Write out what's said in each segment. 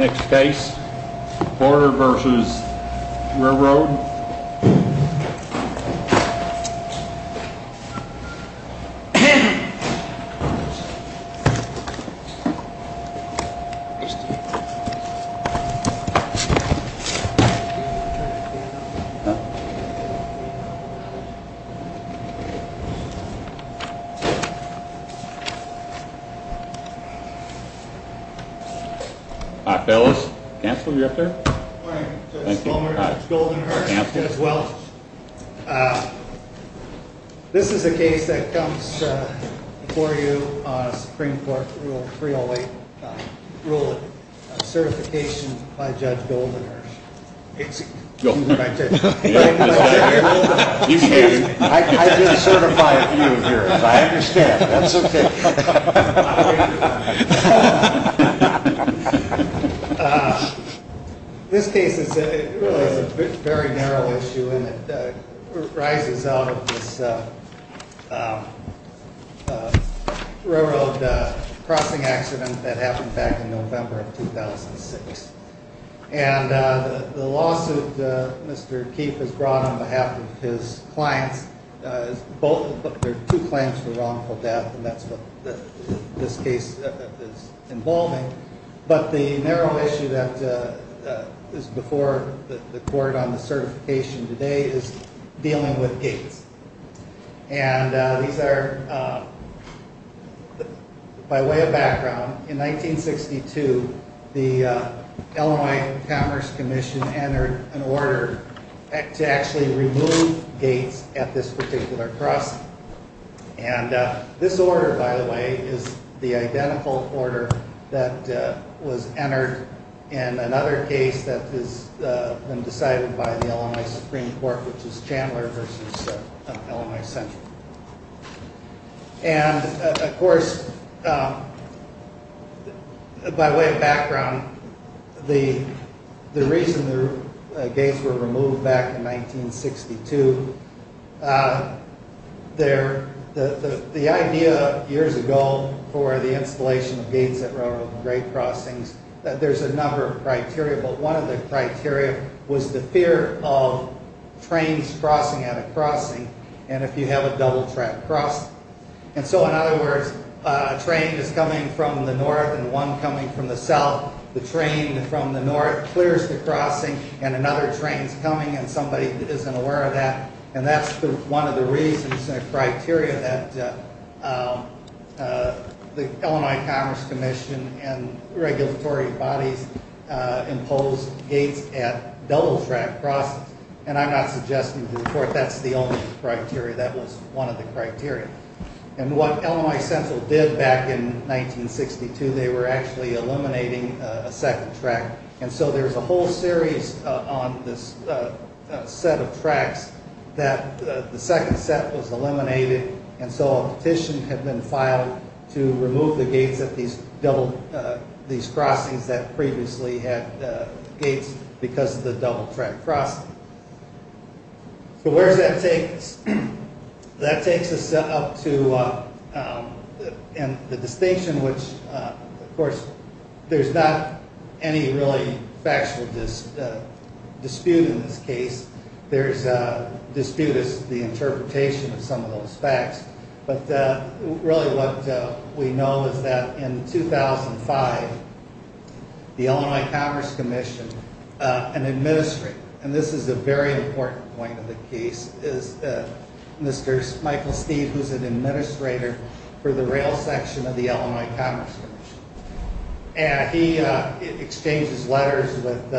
Next case, Border v. Railroad. All right, fellas. Counselor, you up there? Good morning, Judge Goldenhurst, as well. This is a case that comes before you on Supreme Court Rule 308, Rule of Certification by Judge Goldenhurst. I just certify a few of yours. I understand. That's okay. This case is a very narrow issue, and it arises out of this railroad crossing accident that happened back in November of 2006. And the lawsuit Mr. Keefe has brought on behalf of his clients, there are two claims for wrongful death, and that's what this case is involving. But the narrow issue that is before the court on the certification today is dealing with gates. By way of background, in 1962, the Illinois Commerce Commission entered an order to actually remove gates at this particular crossing. And this order, by the way, is the identical order that was entered in another case that has been decided by the Illinois Supreme Court, which is Chandler v. Illinois Central. And, of course, by way of background, the reason the gates were removed back in 1962, the idea years ago for the installation of gates at railroad grade crossings, that there's a number of criteria, but one of the criteria was the fear of trains crossing at a crossing, and if you have a double track crossing. And so, in other words, a train is coming from the north and one coming from the south. The train from the north clears the crossing, and another train is coming, and somebody isn't aware of that. And that's one of the reasons and criteria that the Illinois Commerce Commission and regulatory bodies imposed gates at double track crossings. And I'm not suggesting to the court that's the only criteria, that was one of the criteria. And what Illinois Central did back in 1962, they were actually eliminating a second track. And so there's a whole series on this set of tracks that the second set was eliminated, and so a petition had been filed to remove the gates at these crossings that previously had gates because of the double track crossing. So where does that take us? That takes us up to the distinction which, of course, there's not any really factual dispute in this case. There's a dispute as to the interpretation of some of those facts, but really what we know is that in 2005, the Illinois Commerce Commission, an administrator, and this is a very important point of the case, is Mr. Michael Steeve, who's an administrator for the rail section of the Illinois Commerce Commission. And he exchanges letters with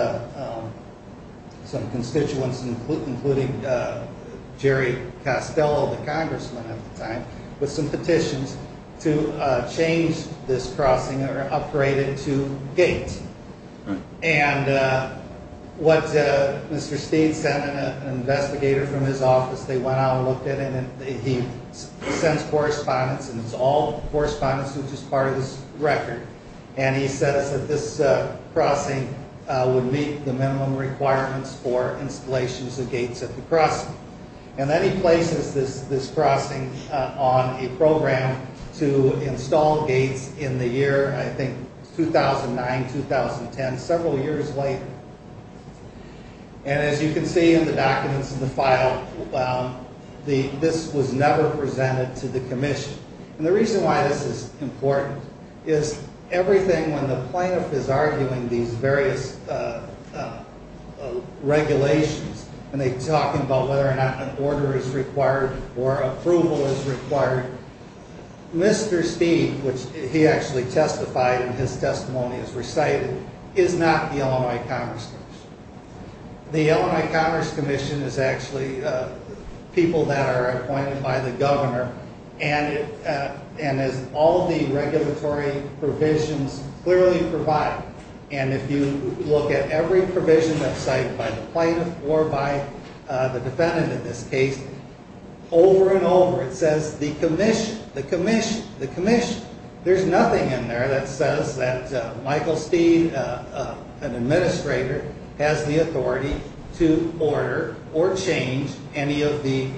some constituents, including Jerry Castello, the congressman at the time, with some petitions to change this crossing or upgrade it to gates. And what Mr. Steeve sent an investigator from his office, they went out and looked at it, and he sends correspondence, and it's all correspondence which is part of this record. And he says that this crossing would meet the minimum requirements for installations of gates at the crossing. And then he places this crossing on a program to install gates in the year, I think, 2009, 2010, several years later. And as you can see in the documents in the file, this was never presented to the commission. And the reason why this is important is everything when the plaintiff is arguing these various regulations, and they talk about whether or not an order is required or approval is required, Mr. Steeve, which he actually testified and his testimony is recited, is not the Illinois Commerce Commission. The Illinois Commerce Commission is actually people that are appointed by the governor, and as all the regulatory provisions clearly provide, and if you look at every provision that's cited by the plaintiff or by the defendant in this case, over and over it says the commission, the commission, the commission. There's nothing in there that says that Michael Steeve, an administrator, has the authority to order or change any of the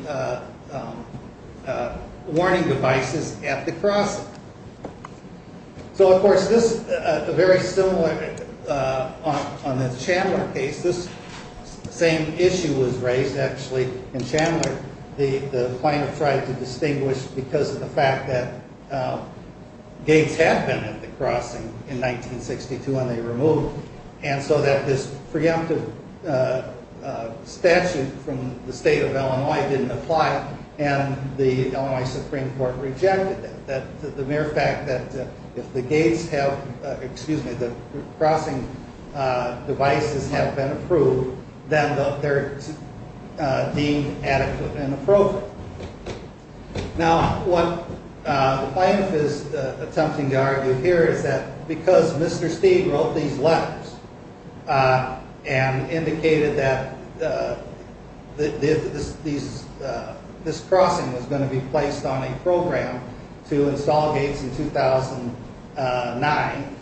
warning devices at the crossing. So, of course, this is very similar on the Chandler case. This same issue was raised, actually, in Chandler. The plaintiff tried to distinguish because of the fact that gates had been at the crossing in 1962, and they removed, and so that this preemptive statute from the state of Illinois didn't apply, and the Illinois Supreme Court rejected it. The mere fact that if the gates have, excuse me, the crossing devices have been approved, then they're deemed adequate and appropriate. Now, what the plaintiff is attempting to argue here is that because Mr. Steeve wrote these letters and indicated that this crossing was going to be placed on a program to install gates in 2009,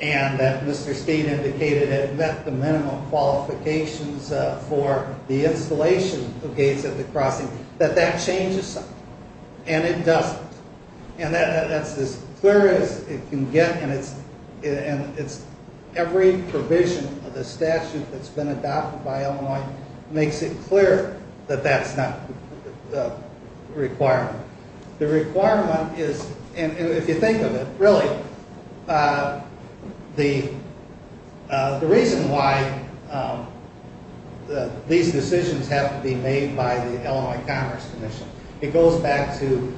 and that Mr. Steeve indicated it met the minimum qualifications for the installation of gates at the crossing, that that changes something, and it doesn't. And that's as clear as it can get, and every provision of the statute that's been adopted by Illinois makes it clear that that's not the requirement. The requirement is, and if you think of it, really, the reason why these decisions have to be made by the Illinois Commerce Commission, it goes back to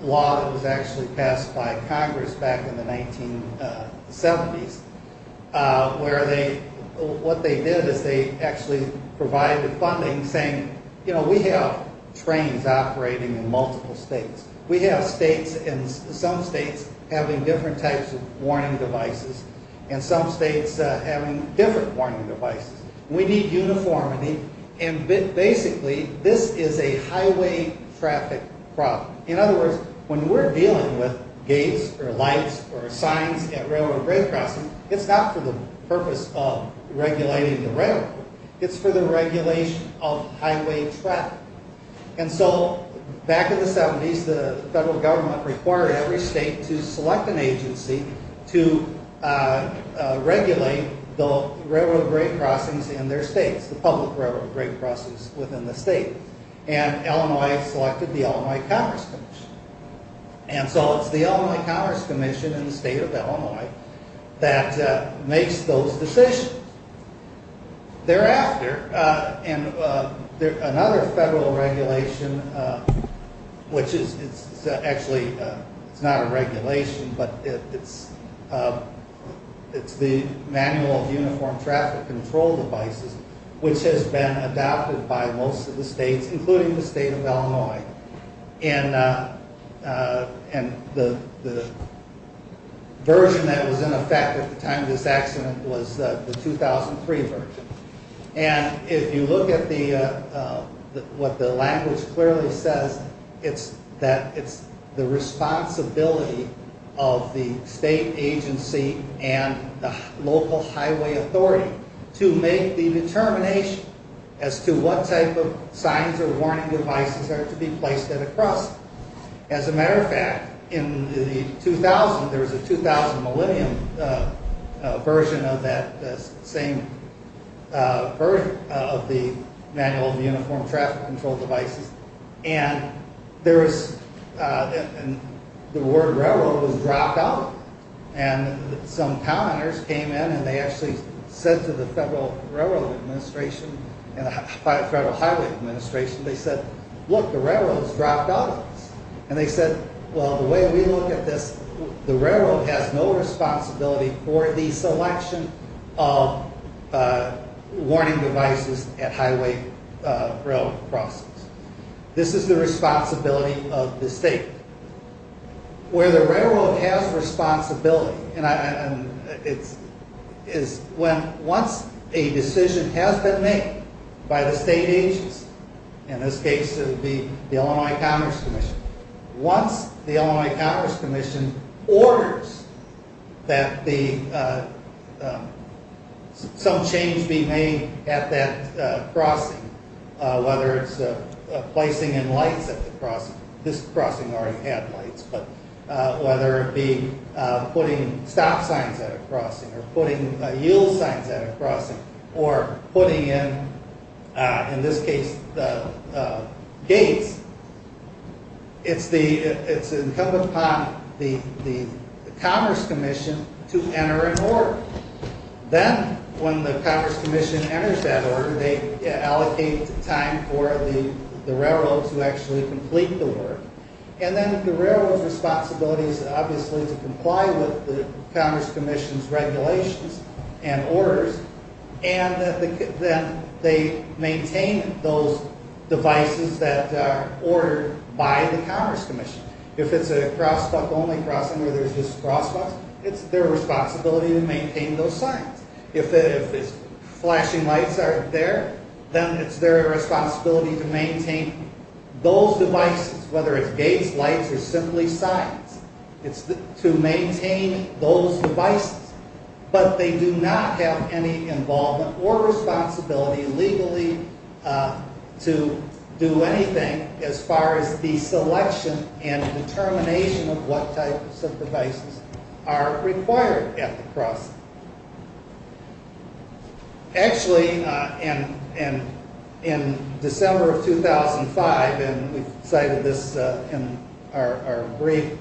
law that was actually passed by Congress back in the 1970s, where they, what they did is they actually provided funding, saying, you know, we have trains operating in multiple states. We have states and some states having different types of warning devices, and some states having different warning devices. We need uniformity, and basically, this is a highway traffic problem. In other words, when we're dealing with gates or lights or signs at railroad grade crossings, it's not for the purpose of regulating the railroad. It's for the regulation of highway traffic, and so back in the 70s, the federal government required every state to select an agency to regulate the railroad grade crossings in their states, the public railroad grade crossings within the state, and Illinois selected the Illinois Commerce Commission. And so it's the Illinois Commerce Commission in the state of Illinois that makes those decisions. Thereafter, and another federal regulation, which is actually, it's not a regulation, but it's the Manual of Uniform Traffic Control Devices, which has been adopted by most of the states, including the state of Illinois, and the version that was in effect at the time of this accident was the 2003 version. And if you look at what the language clearly says, it's that it's the responsibility of the state agency and the local highway authority to make the determination as to what type of signs or warning devices are to be placed at a cross. As a matter of fact, in the 2000, there was a 2000 Millennium version of that same version of the Manual of Uniform Traffic Control Devices, and the word railroad was dropped out. And some commenters came in and they actually said to the Federal Railroad Administration and the Federal Highway Administration, they said, look, the railroad has dropped out of this. And they said, well, the way we look at this, the railroad has no responsibility for the selection of warning devices at highway railroad crossings. This is the responsibility of the state. Where the railroad has responsibility is when once a decision has been made by the state agency, in this case, it would be the Illinois Commerce Commission. Once the Illinois Commerce Commission orders that some change be made at that crossing, whether it's placing in lights at the crossing, this crossing already had lights, but whether it be putting stop signs at a crossing or putting yield signs at a crossing or putting in, in this case, the gates, it's incumbent upon the Commerce Commission to enter an order. Then when the Commerce Commission enters that order, they allocate time for the railroad to actually complete the work. And then the railroad's responsibility is obviously to comply with the Commerce Commission's regulations and orders, and then they maintain those devices that are ordered by the Commerce Commission. If it's a crosswalk only crossing where there's just crosswalks, it's their responsibility to maintain those signs. If flashing lights aren't there, then it's their responsibility to maintain those devices, whether it's gates, lights, or simply signs. It's to maintain those devices. But they do not have any involvement or responsibility legally to do anything as far as the selection and determination of what types of devices are required at the crossing. Actually, in December of 2005, and we've cited this in our brief,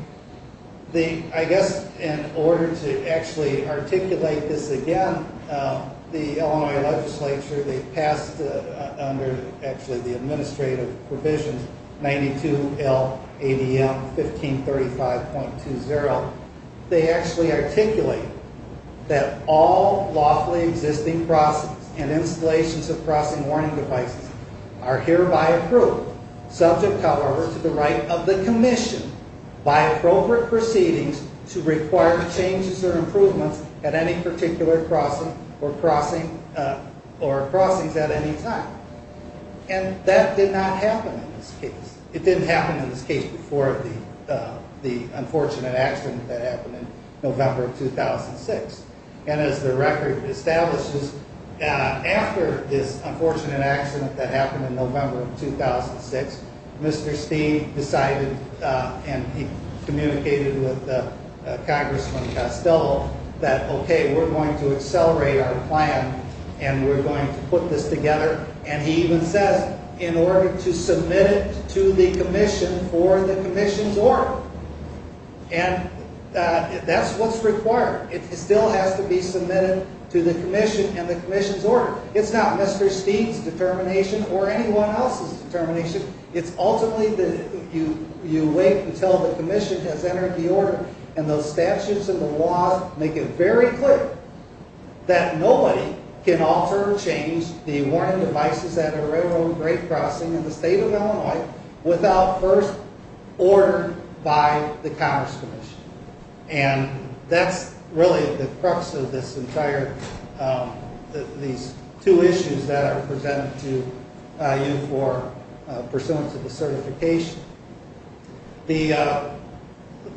I guess in order to actually articulate this again, the Illinois legislature, they passed under the administrative provision 92LADM 1535.20. They actually articulate that all lawfully existing crossings and installations of crossing warning devices are hereby approved, subject, however, to the right of the commission by appropriate proceedings to require changes or improvements at any particular crossing or crossings at any time. And that did not happen in this case. It didn't happen in this case before the unfortunate accident that happened in November of 2006. And as the record establishes, after this unfortunate accident that happened in November of 2006, Mr. Steeve decided and he communicated with Congressman Castello that, okay, we're going to accelerate our plan and we're going to put this together. And he even said, in order to submit it to the commission for the commission's order. And that's what's required. It still has to be submitted to the commission and the commission's order. It's not Mr. Steeve's determination or anyone else's determination. It's ultimately that you wait until the commission has entered the order and those statutes and the laws make it very clear that nobody can alter or change the warning devices at a railroad grade crossing in the state of Illinois without first order by the Congress Commission. And that's really the crux of this entire, these two issues that are presented to you for pursuance of the certification. The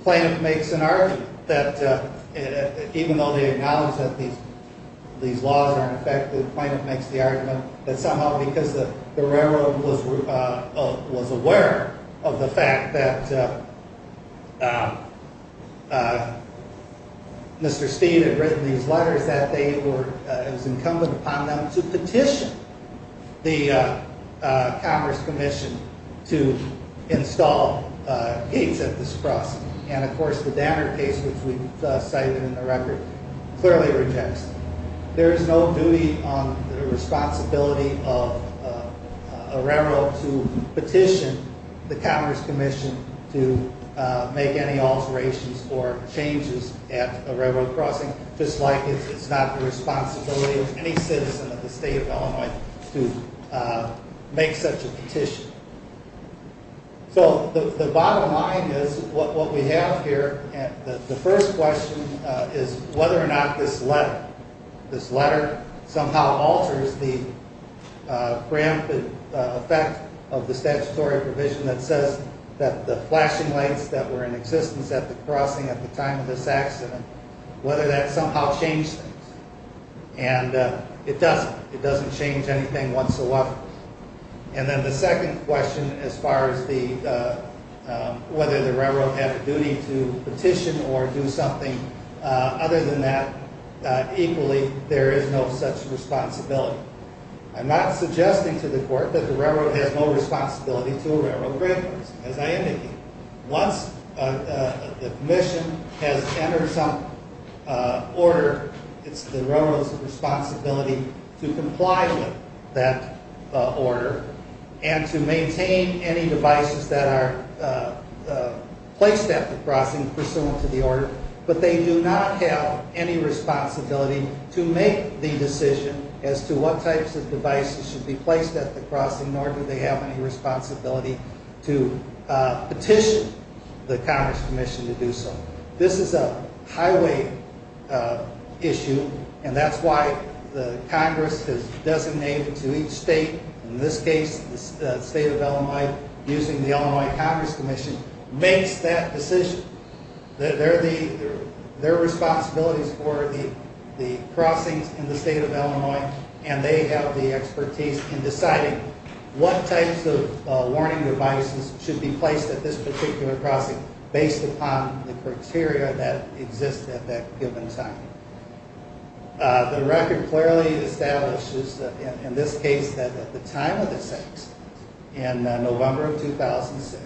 plaintiff makes an argument that even though they acknowledge that these laws aren't effective, the plaintiff makes the argument that somehow because the railroad was aware of the fact that Mr. Steeve had written these letters that it was incumbent upon them to petition the Congress Commission to install gates at this crossing. And of course the Danner case, which we've cited in the record, clearly rejects it. There is no duty on the responsibility of a railroad to petition the Congress Commission to make any alterations or changes at a railroad crossing, just like it's not the responsibility of any citizen of the state of Illinois to make such a petition. So the bottom line is, what we have here, the first question is whether or not this letter, this letter somehow alters the preemptive effect of the statutory provision that says that the flashing lights that were in existence at the crossing at the time of this accident, whether that somehow changed things. And it doesn't. It doesn't change anything whatsoever. And then the second question as far as the, whether the railroad had a duty to petition or do something other than that, equally, there is no such responsibility. So I'm not suggesting to the court that the railroad has no responsibility to a railroad crossing, as I indicated. Once the commission has entered some order, it's the railroad's responsibility to comply with that order and to maintain any devices that are placed at the crossing pursuant to the order. But they do not have any responsibility to make the decision as to what types of devices should be placed at the crossing, nor do they have any responsibility to petition the Congress Commission to do so. This is a highway issue, and that's why the Congress has designated to each state, in this case the state of Illinois, using the Illinois Congress Commission, makes that decision. They're the, their responsibilities for the crossings in the state of Illinois, and they have the expertise in deciding what types of warning devices should be placed at this particular crossing based upon the criteria that exist at that given time. The record clearly establishes, in this case, that at the time of this accident, in November of 2006,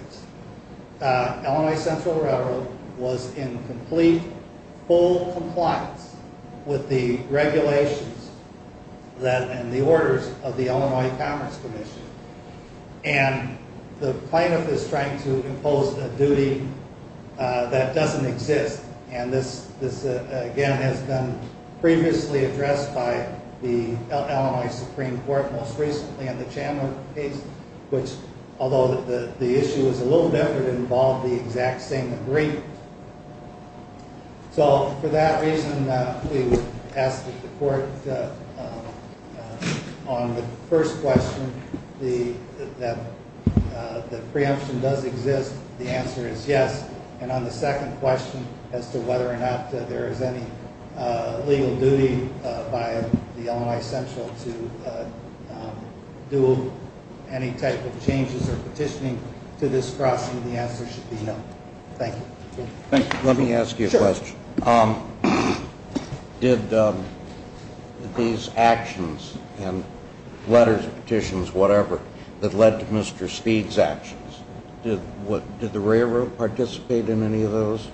Illinois Central Railroad was in complete, full compliance with the regulations and the orders of the Illinois Congress Commission. And the plaintiff is trying to impose a duty that doesn't exist, and this, again, has been previously addressed by the Illinois Supreme Court most recently in the Chandler case, which, although the issue is a little different, involved the exact same degree. So, for that reason, we would ask that the court, on the first question, that the preemption does exist, the answer is yes, and on the second question as to whether or not there is any legal duty by the Illinois Central to do any type of changes or petitioning to this crossing, the answer should be no. Thank you. Let me ask you a question. Sure. Did these actions and letters, petitions, whatever, that led to Mr. Speed's actions, did the railroad participate in any of those?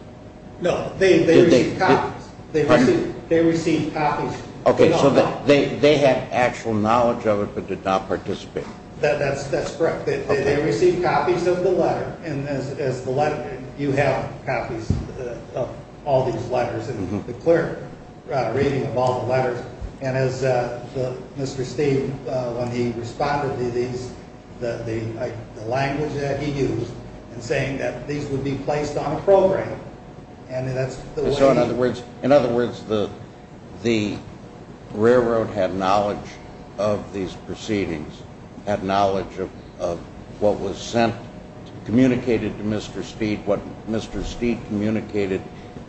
No, they received copies. Pardon me? They received copies. Okay, so they had actual knowledge of it, but did not participate. That's correct. Okay. They received copies of the letter, and as the letter, you have copies of all these letters and the clerk reading of all the letters, and as Mr. Speed, when he responded to these, the language that he used in saying that these would be placed on a program, and that's the way he… communicated to Mr. Speed what Mr. Speed communicated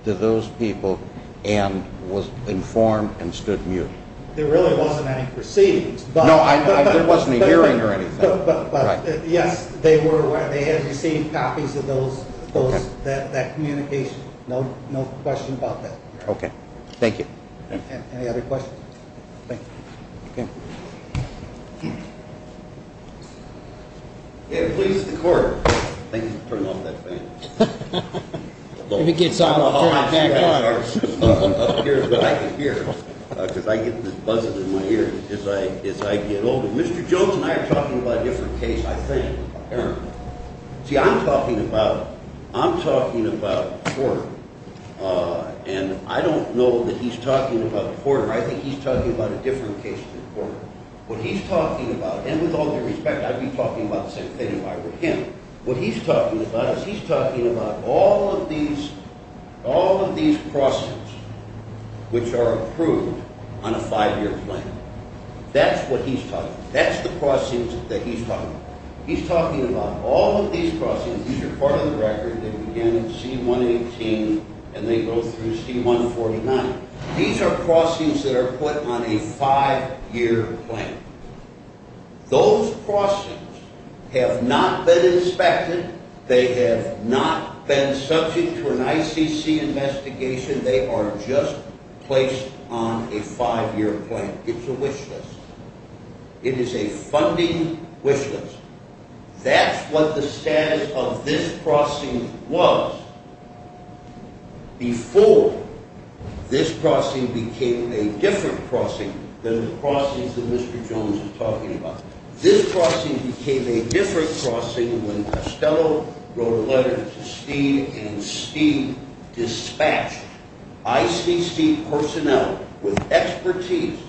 to those people and was informed and stood mute. There really wasn't any proceedings. No, there wasn't a hearing or anything. But, yes, they had received copies of that communication. No question about that. Okay. Thank you. Any other questions? Thank you. Okay. Hmm. Okay, the police and the court. Thank you for turning off that fan. If it gets on, I'll turn it back on. Here's what I can hear, because I get this buzz in my ears as I get older. Mr. Jones and I are talking about a different case, I think. See, I'm talking about court, and I don't know that he's talking about the court, or I think he's talking about a different case than the court. What he's talking about, and with all due respect, I'd be talking about the same thing if I were him. What he's talking about is he's talking about all of these crossings, which are approved on a five-year plan. That's what he's talking about. That's the crossings that he's talking about. He's talking about all of these crossings. These are part of the record that began in C-118 and they go through C-149. These are crossings that are put on a five-year plan. Those crossings have not been inspected. They have not been subject to an ICC investigation. They are just placed on a five-year plan. It's a wish list. It is a funding wish list. That's what the status of this crossing was before this crossing became a different crossing than the crossings that Mr. Jones is talking about. This crossing became a different crossing when Costello wrote a letter to Steed and Steed dispatched ICC personnel with expertise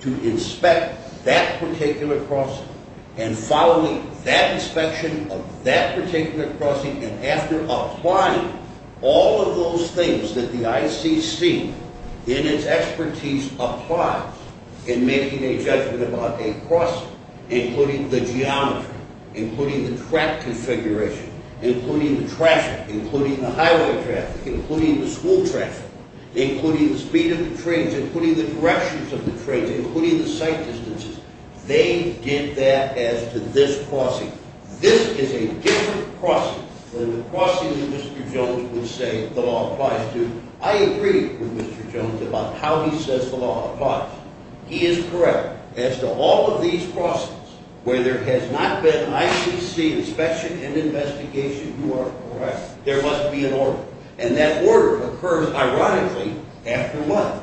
to inspect that particular crossing and following that inspection of that particular crossing and after applying all of those things that the ICC in its expertise applies in making a judgment about a crossing, including the geometry, including the track configuration, including the traffic, including the highway traffic, including the school traffic, including the speed of the trains, including the directions of the trains, including the sight distances. They did that as to this crossing. This is a different crossing than the crossing that Mr. Jones would say the law applies to. I agree with Mr. Jones about how he says the law applies. He is correct. As to all of these crossings where there has not been ICC inspection and investigation, you are correct. There must be an order, and that order occurs ironically after what?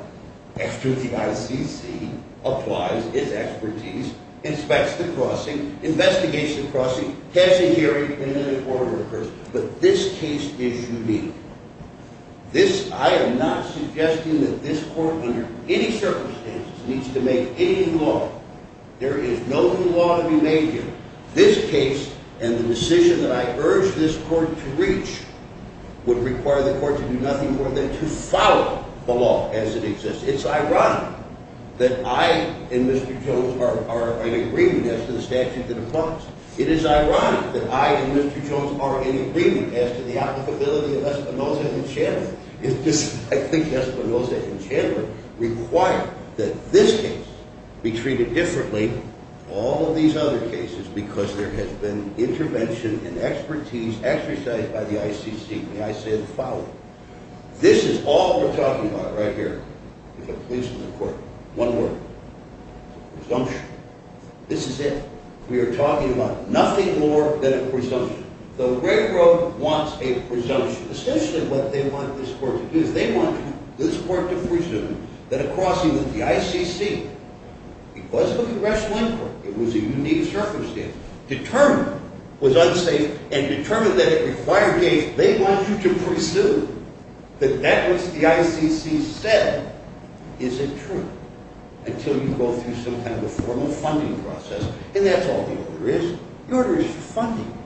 After the ICC applies its expertise, inspects the crossing, investigates the crossing, has a hearing, and then an order occurs. But this case is unique. This, I am not suggesting that this court under any circumstances needs to make any law. There is no new law to be made here. This case and the decision that I urge this court to reach would require the court to do nothing more than to follow the law as it exists. It's ironic that I and Mr. Jones are in agreement as to the statute that applies. It is ironic that I and Mr. Jones are in agreement as to the applicability of Espinosa and Chandler. I think Espinosa and Chandler require that this case be treated differently from all of these other cases because there has been intervention and expertise exercised by the ICC. May I say the following? This is all we're talking about right here with the police and the court. One word. Presumption. This is it. We are talking about nothing more than a presumption. The railroad wants a presumption. Essentially what they want this court to do is they want this court to presume that a crossing with the ICC, because of a congressional inquiry, it was a unique circumstance, determined was unsafe and determined that it required a case. They want you to presume that that which the ICC said isn't true until you go through some kind of a formal funding process. And that's all the order is. The order is funding.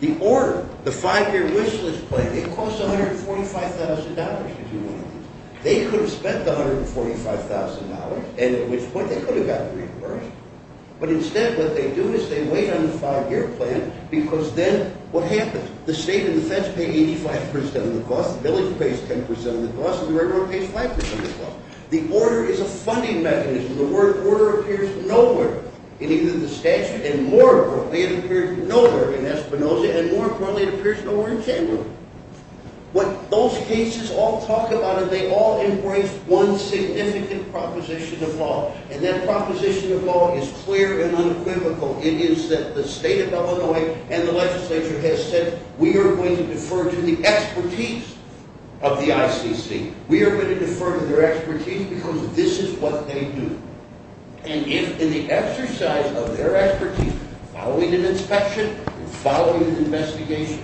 The order, the five-year wish list plan, it costs $145,000 to do one of these. They could have spent the $145,000 and at which point they could have gotten reimbursed, but instead what they do is they wait on the five-year plan because then what happens? The state and the feds pay 85% of the cost, the village pays 10% of the cost, and the railroad pays 5% of the cost. The order is a funding mechanism. The word order appears nowhere in either the statute and more importantly it appears nowhere in Espinoza and more importantly it appears nowhere in Chamberlain. What those cases all talk about is they all embrace one significant proposition of law, and that proposition of law is clear and unequivocal. It is that the state of Illinois and the legislature has said we are going to defer to the expertise of the ICC. We are going to defer to their expertise because this is what they do. And if in the exercise of their expertise, following an inspection and following an investigation,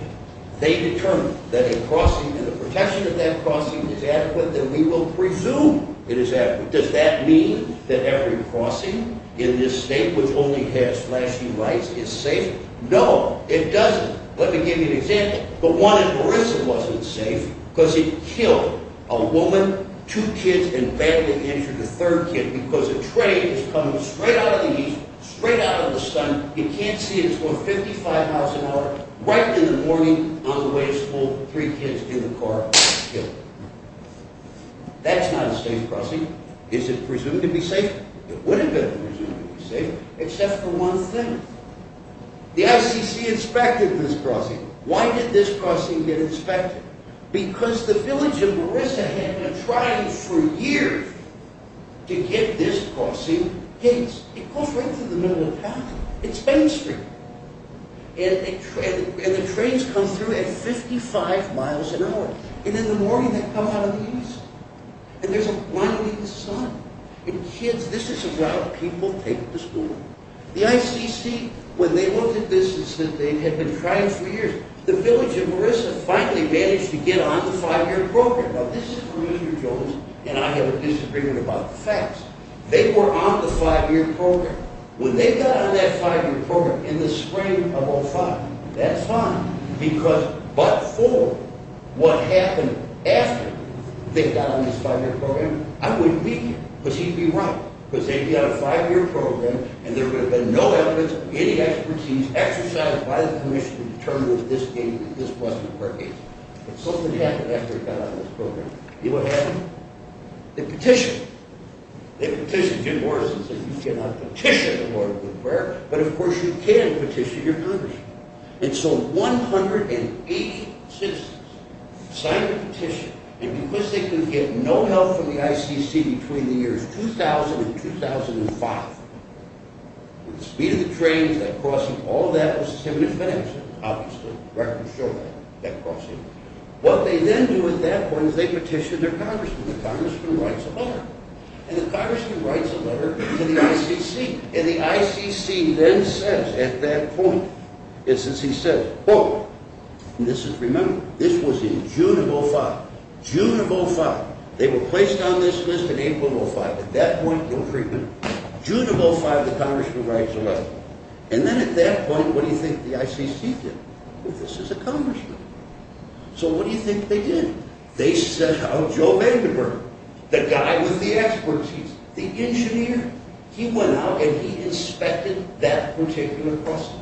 they determine that a crossing and the protection of that crossing is adequate, then we will presume it is adequate. Does that mean that every crossing in this state which only has flashing lights is safe? No, it doesn't. Let me give you an example. The one in Marissa wasn't safe because it killed a woman, two kids, and badly injured a third kid because a train was coming straight out of the east, straight out of the sun. You can't see it, it's going 55 miles an hour, right in the morning on the way to school, three kids in the car, killed. That's not a safe crossing. Is it presumed to be safe? It would have been presumed to be safe, except for one thing. The ICC inspected this crossing. Why did this crossing get inspected? Because the village in Marissa had been trying for years to get this crossing. It goes right through the middle of town. It's Main Street. And the trains come through at 55 miles an hour. And in the morning they come out of the east. And there's a blinding sun. And kids, this is a route people take to school. The ICC, when they looked at this and said they had been trying for years, the village in Marissa finally managed to get on the five-year program. Now this is where Mr. Jones and I have a disagreement about the facts. They were on the five-year program. When they got on that five-year program in the spring of 2005, that's fine because but for what happened after they got on this five-year program, I wouldn't be here. Because he'd be wrong. Because they'd be on a five-year program, and there would have been no evidence, any expertise exercised by the commission to determine if this wasn't a fair case. But something happened after they got on this program. You know what happened? They petitioned. They petitioned in Marissa and said, you cannot petition the Lord with prayer. But of course you can petition your country. And so 180 citizens signed a petition. And because they couldn't get no help from the ICC between the years 2000 and 2005, the speed of the trains, that crossing, all that was to him in advance. Obviously records show that crossing. What they then do at that point is they petition their congressman. The congressman writes a letter. And the congressman writes a letter to the ICC. And the ICC then says at that point, it's as he says, quote, and this is, remember, this was in June of 2005. June of 2005. They were placed on this list in April of 2005. At that point, no treatment. June of 2005, the congressman writes a letter. And then at that point, what do you think the ICC did? This is a congressman. So what do you think they did? They sent out Joe Vandenberg, the guy with the expertise, the engineer. He went out and he inspected that particular crossing.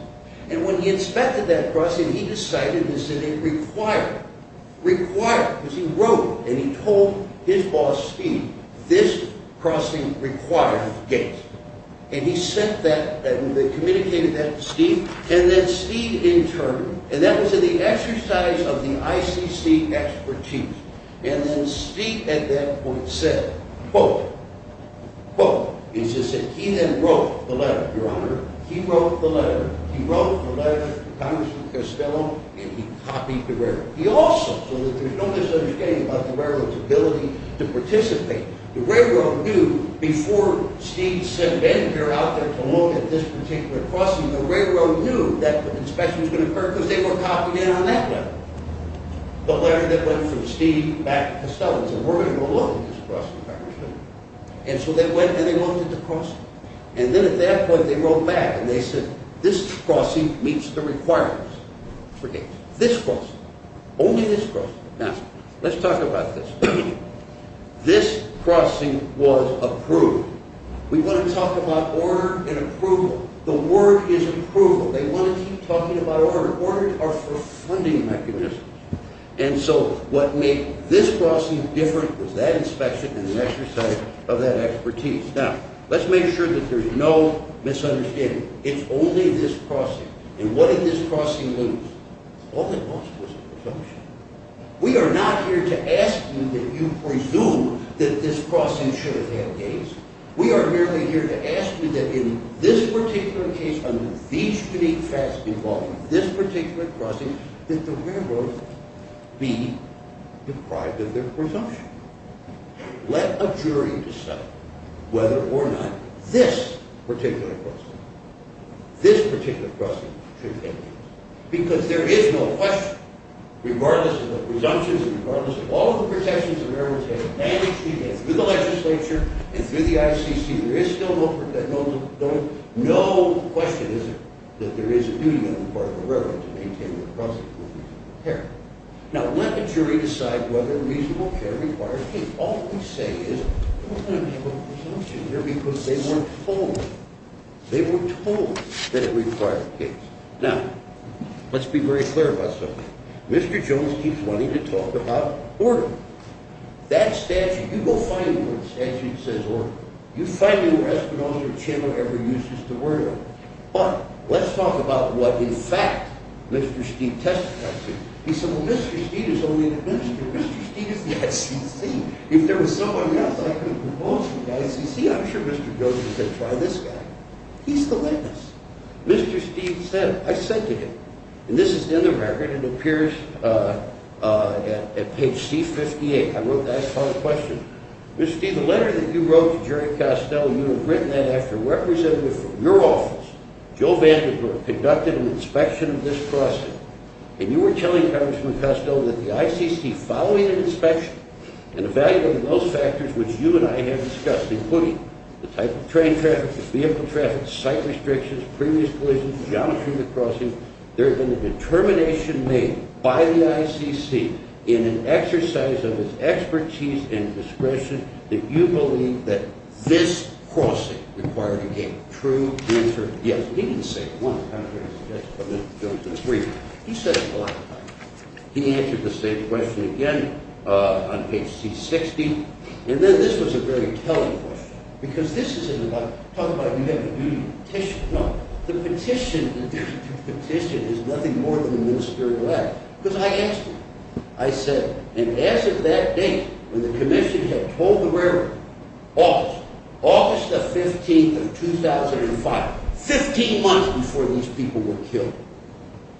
And when he inspected that crossing, he decided that it required, required, because he wrote and he told his boss, Steve, this crossing requires gates. And he sent that and they communicated that to Steve. And then Steve interned. And that was in the exercise of the ICC expertise. And then Steve at that point said, quote, quote, he then wrote the letter, Your Honor. He wrote the letter. He wrote the letter to Congressman Costello and he copied the railroad. He also, so that there's no misunderstanding about the railroad's ability to participate. The railroad knew before Steve sent Vandenberg out there to look at this particular crossing, the railroad knew that the inspection was going to occur because they were copying it on that level. The letter that went from Steve back to Costello said, we're going to go look at this crossing, Congressman. And so they went and they looked at the crossing. And then at that point they wrote back and they said, this crossing meets the requirements for gates. This crossing. Only this crossing. Now, let's talk about this. This crossing was approved. We want to talk about order and approval. The word is approval. They want to keep talking about order. Order are for funding mechanisms. And so what made this crossing different was that inspection and the exercise of that expertise. Now, let's make sure that there's no misunderstanding. It's only this crossing. And what did this crossing lose? All it lost was a presumption. We are not here to ask you that you presume that this crossing should have had gates. We are merely here to ask you that in this particular case, under these unique facts involving this particular crossing, that the railroad be deprived of their presumption. Let a jury decide whether or not this particular crossing, this particular crossing should have gates. Because there is no question, regardless of the presumptions and regardless of all of the protections that the railroad has, mainly through the legislature and through the ICC, there is still no question that there is a duty on the part of the railroad to maintain the crossing. Now, let a jury decide whether reasonable care requires gates. All we say is, we're going to make a presumption here because they weren't told. They were told that it required gates. Now, let's be very clear about something. Mr. Jones keeps wanting to talk about order. That statute, you go find me where the statute says order. You find me where Espinosa Channel ever uses the word order. But let's talk about what, in fact, Mr. Steeve testified to. He said, well, Mr. Steeve is only an administrator. Mr. Steeve is the ICC. If there was someone else, I could propose to the ICC. I'm sure Mr. Jones would say, try this guy. He's the last. Mr. Steeve said it. I said to him, and this is in the record. It appears at page C-58. I wrote that as part of the question. Mr. Steeve, the letter that you wrote to Jerry Costello, you had written that after a representative from your office, Joe Vandenberg, conducted an inspection of this crossing. And you were telling Congressman Costello that the ICC, following an inspection and evaluating those factors which you and I have discussed, including the type of train traffic, the vehicle traffic, site restrictions, previous collisions, geometry of the crossing, there had been a determination made by the ICC, in an exercise of its expertise and discretion, that you believe that this crossing required a true answer. Yes, he didn't say it once. Congressman Costello said it three times. He said it a lot of times. He answered the same question again on page C-60. And then this was a very telling question. Because this isn't about – talk about you have a duty petition. No, the petition is nothing more than a ministerial act. Because I asked him. I said, and as of that date, when the commission had told the railroad, August, August the 15th of 2005, 15 months before these people were killed,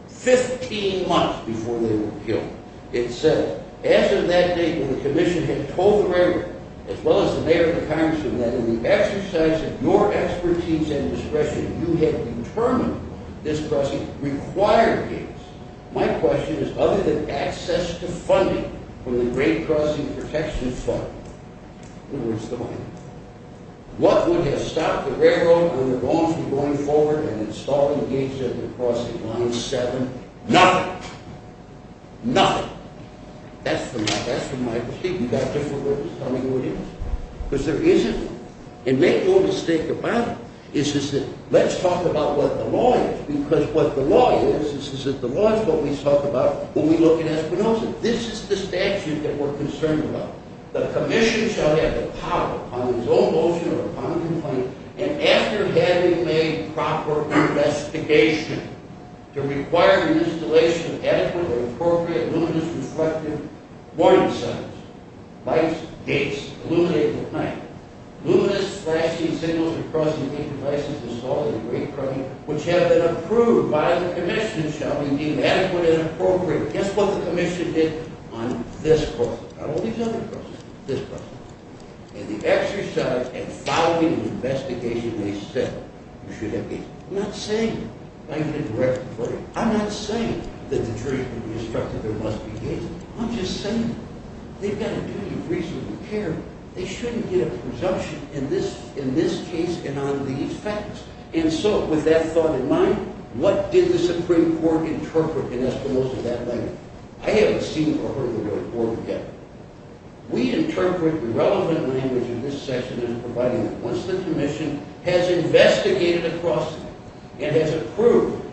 15 months before they were killed, it said, as of that date, when the commission had told the railroad, as well as the mayor and the congressman, that in the exercise of your expertise and discretion, you had determined this crossing required gates, my question is, other than access to funding from the Great Crossing Protection Fund, in other words, the money, what would have stopped the railroad from going forward and installing gates at the crossing line 7? Nothing. Nothing. That's from my receipt. You got a different way of telling me what it is? Because there isn't. And make no mistake about it. It's just that, let's talk about what the law is. Because what the law is, is that the law is what we talk about when we look at espionage. This is the statute that we're concerned about. The commission shall have the power, upon his own motion or upon complaint, and after having made proper investigation to require the installation of adequate or appropriate luminous reflective warning signs, lights, gates, illuminated at night, luminous flashing signals at crossing gate devices installed at the Great Crossing, which have been approved by the commission, shall we deem adequate and appropriate. That's what the commission did on this crossing. Not all these other crossings. This crossing. And the exercise, and following the investigation, they said, you should have gates. I'm not saying, I'm not saying that the jury should be instructed there must be gates. I'm just saying, they've got a duty of reasonable care. They shouldn't get a presumption in this case and on these facts. And so, with that thought in mind, what did the Supreme Court interpret in espionage of that language? I haven't seen or heard the report yet. We interpret the relevant language in this section as providing that once the commission has investigated a crossing and has approved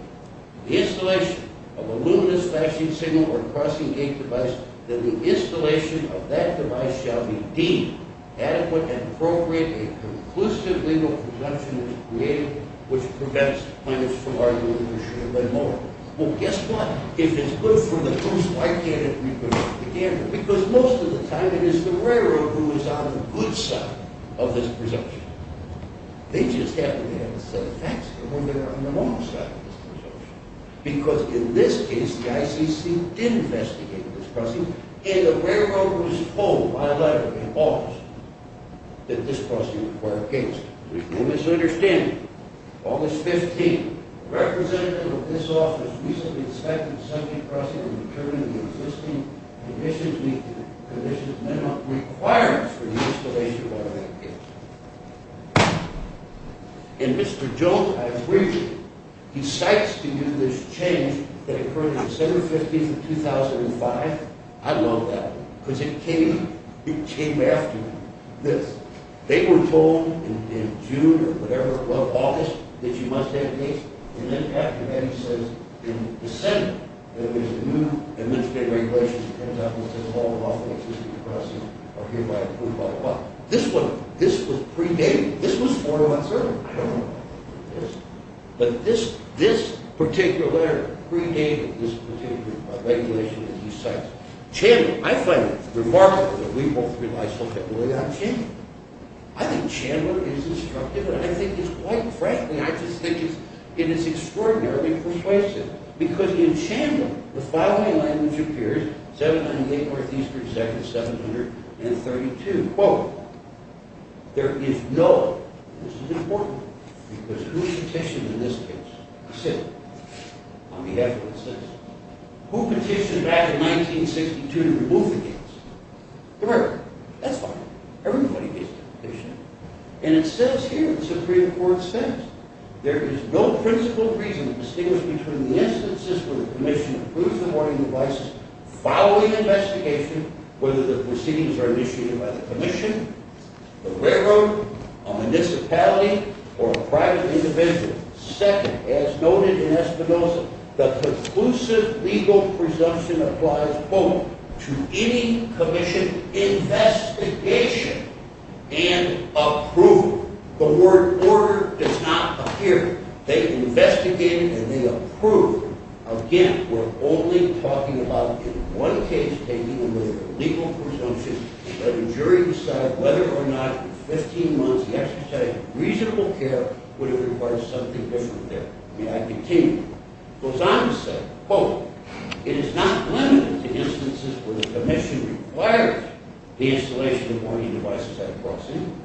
the installation of a luminous flashing signal or crossing gate device, that the installation of that device shall be deemed adequate and appropriate, a conclusive legal presumption is created, which prevents punishments from arguing that there should have been more. Well, guess what? If it's good for the goose, why can't it be good for the gander? Because most of the time, it is the railroad who is on the good side of this presumption. They just happen to have a set of facts for when they're on the wrong side of this presumption. Because in this case, the ICC did investigate this crossing, and the railroad was told by a letter in August that this crossing required gates. There's no misunderstanding. August 15, the representative of this office recently inspected the subject crossing and determined the existing conditions meet the conditions minimum requirements for the installation of automatic gates. And Mr. Jones, I agree with you. He cites to you this change that occurred on December 15, 2005. I love that, because it came after this. They were told in June or whatever, well, August, that you must have gates. And then Patrick Hedges says in December that there's a new administrative regulation that comes out that says all the lawful existing crossings are hereby approved by the law. This one, this was predated. This was 4-1-0. I don't know about this. But this particular letter predated this particular regulation, and he says, Chandler, I find it remarkable that we both rely so heavily on Chandler. I think Chandler is instructive, and I think it's quite, frankly, I just think it's extraordinarily persuasive. Because in Chandler, the following language appears, 708 Northeastern, Section 732. Quote, there is no, and this is important, because who petitioned in this case? On behalf of the citizens. Who petitioned back in 1962 to remove the gates? The railroad. That's fine. Everybody gets a petition. And it says here, the Supreme Court says, there is no principal reason to distinguish between the instances where the commission approved the warning devices following investigation, whether the proceedings were initiated by the commission, the railroad, a municipality, or a private individual. Second, as noted in Espinoza, the conclusive legal presumption applies, quote, to any commission investigation and approved. The word order does not appear. They investigated, and they approved. Again, we're only talking about in one case taking a legal presumption, let the jury decide whether or not in 15 months the exercise of reasonable care would have required something different there. May I continue? It goes on to say, quote, it is not limited to instances where the commission requires the installation of warning devices at a crossing,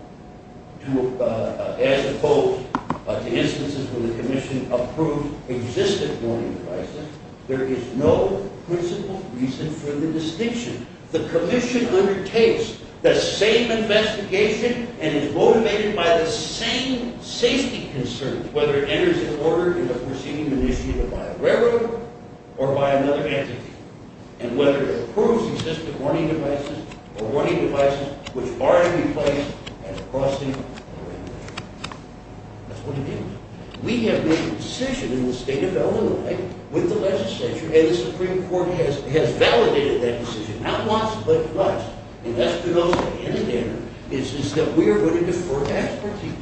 as opposed to instances where the commission approved existing warning devices. There is no principal reason for the distinction. The commission undertakes the same investigation and is motivated by the same safety concerns, whether it enters in order in a proceeding initiated by a railroad or by another entity, and whether it approves existing warning devices or warning devices which are in place at a crossing. That's what it is. We have made a decision in the state of Illinois with the legislature, and the Supreme Court has validated that decision, not once, but twice. And that's because at the end of the day, it's just that we are going to defer to expertise.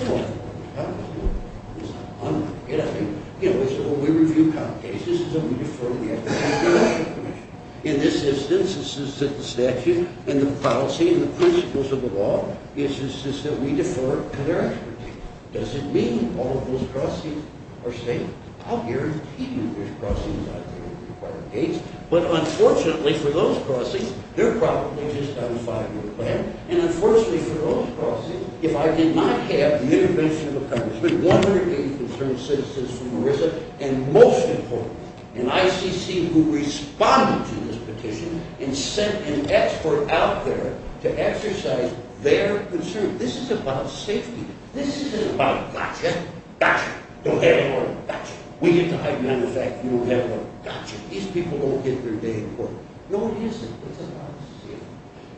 You know what? I don't care. It's not my problem. You know, we review common cases, and we defer to the expertise of the commission. In this instance, it's just that the statute and the policy and the principles of the law, it's just that we defer to their expertise. Does it mean all of those crossings are safe? I'll guarantee you there's crossings out there at required gates. But unfortunately for those crossings, they're probably just on a five-year plan. And unfortunately for those crossings, if I did not have the intervention of a congressman, 180 concerned citizens from Marissa, and most importantly, an ICC who responded to this petition and sent an expert out there to exercise their concerns. This is about safety. This isn't about, gotcha, gotcha, don't have it on, gotcha. We get to hide the fact you don't have it on, gotcha. These people don't get their day in court. No, it isn't. It's about safety.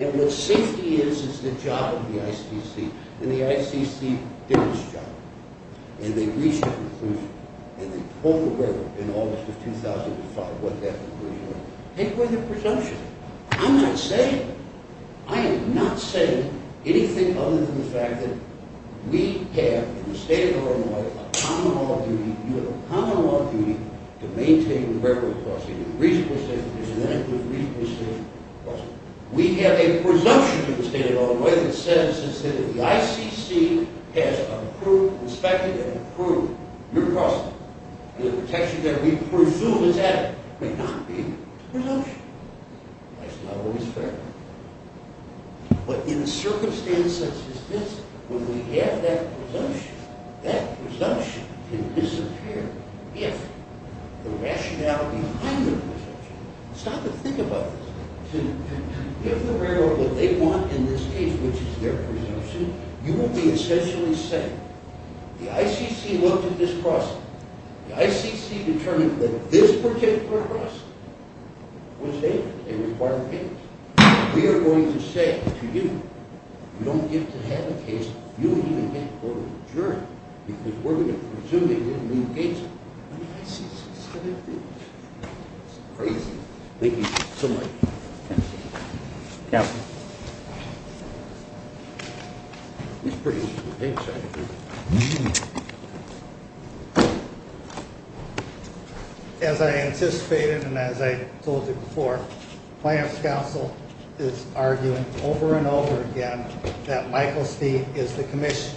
And what safety is, it's the job of the ICC. And the ICC did this job. And they reached a conclusion. And they told the world in August of 2005 what that conclusion was. And it was a presumption. I'm not saying it. We have, in the state of Illinois, a common law duty. You have a common law duty to maintain the railroad crossing in a reasonable state of the nation, and that includes a reasonable state of the state crossing. We have a presumption in the state of Illinois that says that the ICC has approved, inspected, and approved your crossing. And the protection that we presume is added may not be a presumption. That's not always fair. But in a circumstance such as this, when we have that presumption, that presumption can disappear if the rationality behind the presumption is not to think about this. To give the railroad what they want in this case, which is their presumption, you will be essentially saying the ICC looked at this crossing. The ICC determined that this particular crossing was vacant. We are going to say to you, you don't get to have a case. You don't even get a court of adjournment because we're going to presume they didn't move gates. The ICC is going to do this. It's crazy. Thank you so much. Yeah. As I anticipated and as I told you before, Planner's Council is arguing over and over again that Michael Steed is the commission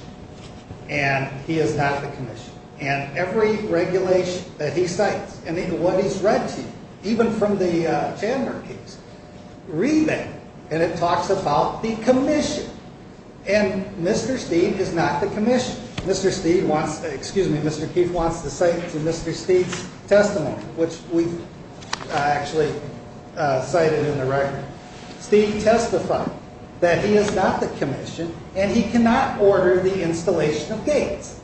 and he is not the commission. And every regulation that he cites and what he's read to you, even from the Chandler case, read that. And it talks about the commission. And Mr. Steed is not the commission. Mr. Steed wants to, excuse me, Mr. Keith wants to cite to Mr. Steed's testimony, which we've actually cited in the record. Steed testified that he is not the commission and he cannot order the installation of gates.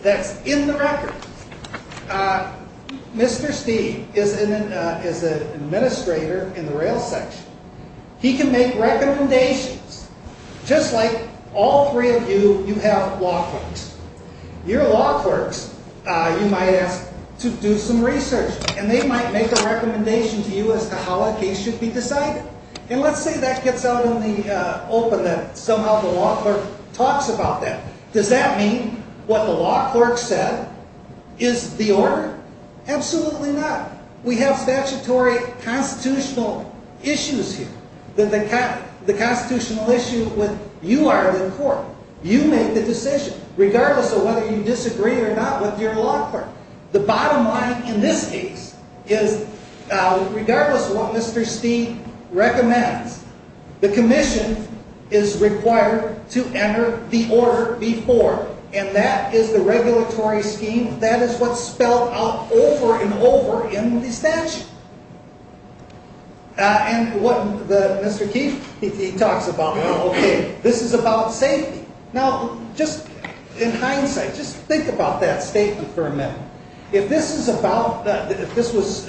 That's in the record. Mr. Steed is an administrator in the rail section. He can make recommendations. Just like all three of you, you have law clerks. Your law clerks, you might ask to do some research, and they might make a recommendation to you as to how a case should be decided. And let's say that gets out in the open, that somehow the law clerk talks about that. Does that mean what the law clerk said is the order? Absolutely not. We have statutory constitutional issues here. The constitutional issue with you are the court. You make the decision, regardless of whether you disagree or not with your law clerk. The bottom line in this case is, regardless of what Mr. Steed recommends, the commission is required to enter the order before, and that is the regulatory scheme. That is what's spelled out over and over in the statute. And what Mr. Keefe talks about, this is about safety. Now, just in hindsight, just think about that statement for a minute. If this was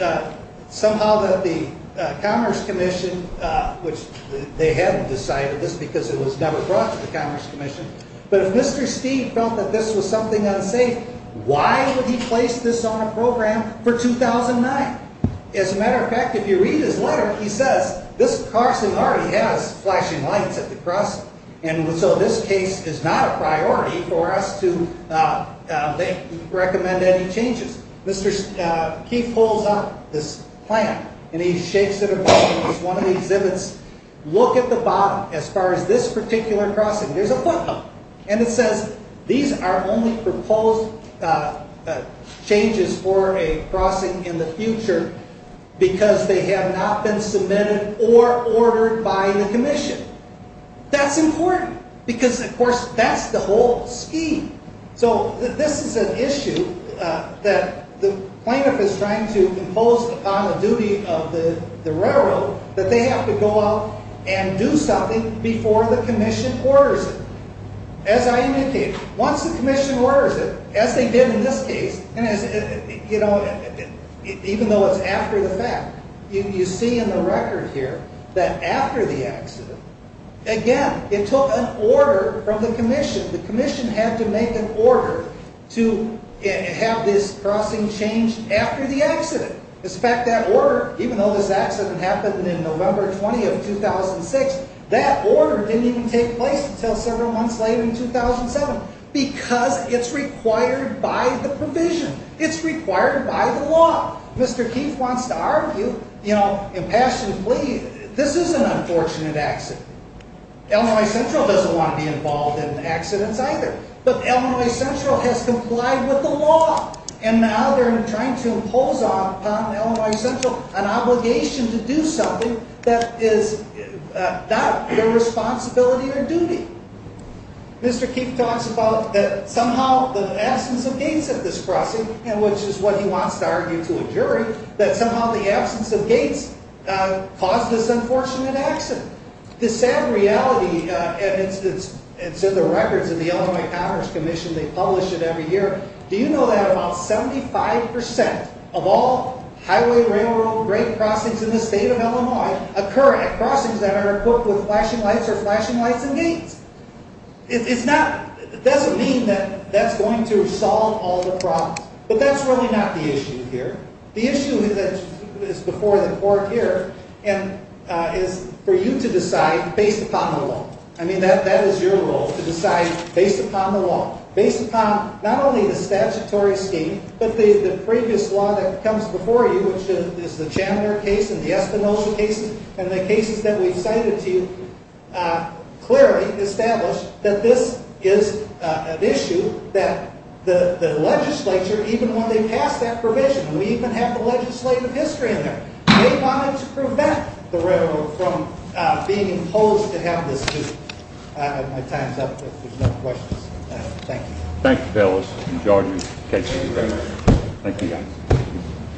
somehow that the Commerce Commission, which they hadn't decided this because it was never brought to the Commerce Commission, but if Mr. Steed felt that this was something unsafe, why would he place this on a program for 2009? As a matter of fact, if you read his letter, he says, this person already has flashing lights at the crossing, and so this case is not a priority for us to make or recommend any changes. Mr. Keefe pulls out this plan, and he shakes it, and one of the exhibits, look at the bottom, as far as this particular crossing, there's a footnote, and it says, these are only proposed changes for a crossing in the future because they have not been submitted or ordered by the commission. That's important because, of course, that's the whole scheme. So this is an issue that the plaintiff is trying to impose upon the duty of the railroad that they have to go out and do something before the commission orders it. As I indicated, once the commission orders it, as they did in this case, even though it's after the fact, you see in the record here that after the accident, again, it took an order from the commission. The commission had to make an order to have this crossing changed after the accident. As a fact, that order, even though this accident happened in November 20 of 2006, that order didn't even take place until several months later in 2007 because it's required by the provision. It's required by the law. Mr. Keefe wants to argue, you know, impassionably, this is an unfortunate accident. Illinois Central doesn't want to be involved in accidents either, but Illinois Central has complied with the law, and now they're trying to impose upon Illinois Central an obligation to do something that is not their responsibility or duty. Mr. Keefe talks about that somehow the absence of gates at this crossing, which is what he wants to argue to a jury, that somehow the absence of gates caused this unfortunate accident. The sad reality, and it's in the records in the Illinois Commerce Commission. They publish it every year. Do you know that about 75% of all highway, railroad, and break crossings in the state of Illinois occur at crossings that are equipped with flashing lights or flashing lights and gates? It doesn't mean that that's going to solve all the problems, but that's really not the issue here. The issue that is before the court here is for you to decide based upon the law. I mean, that is your role to decide based upon the law, based upon not only the statutory scheme, but the previous law that comes before you, which is the Chandler case and the Espinosa case, and the cases that we've cited to you, clearly establish that this is an issue that the legislature, even when they pass that provision, and we even have the legislative history in there, may want to prevent the railroad from being imposed to have this duty. My time's up if there's no questions. Thank you. Thank you, fellas. Enjoy your case. Thank you very much. Thank you.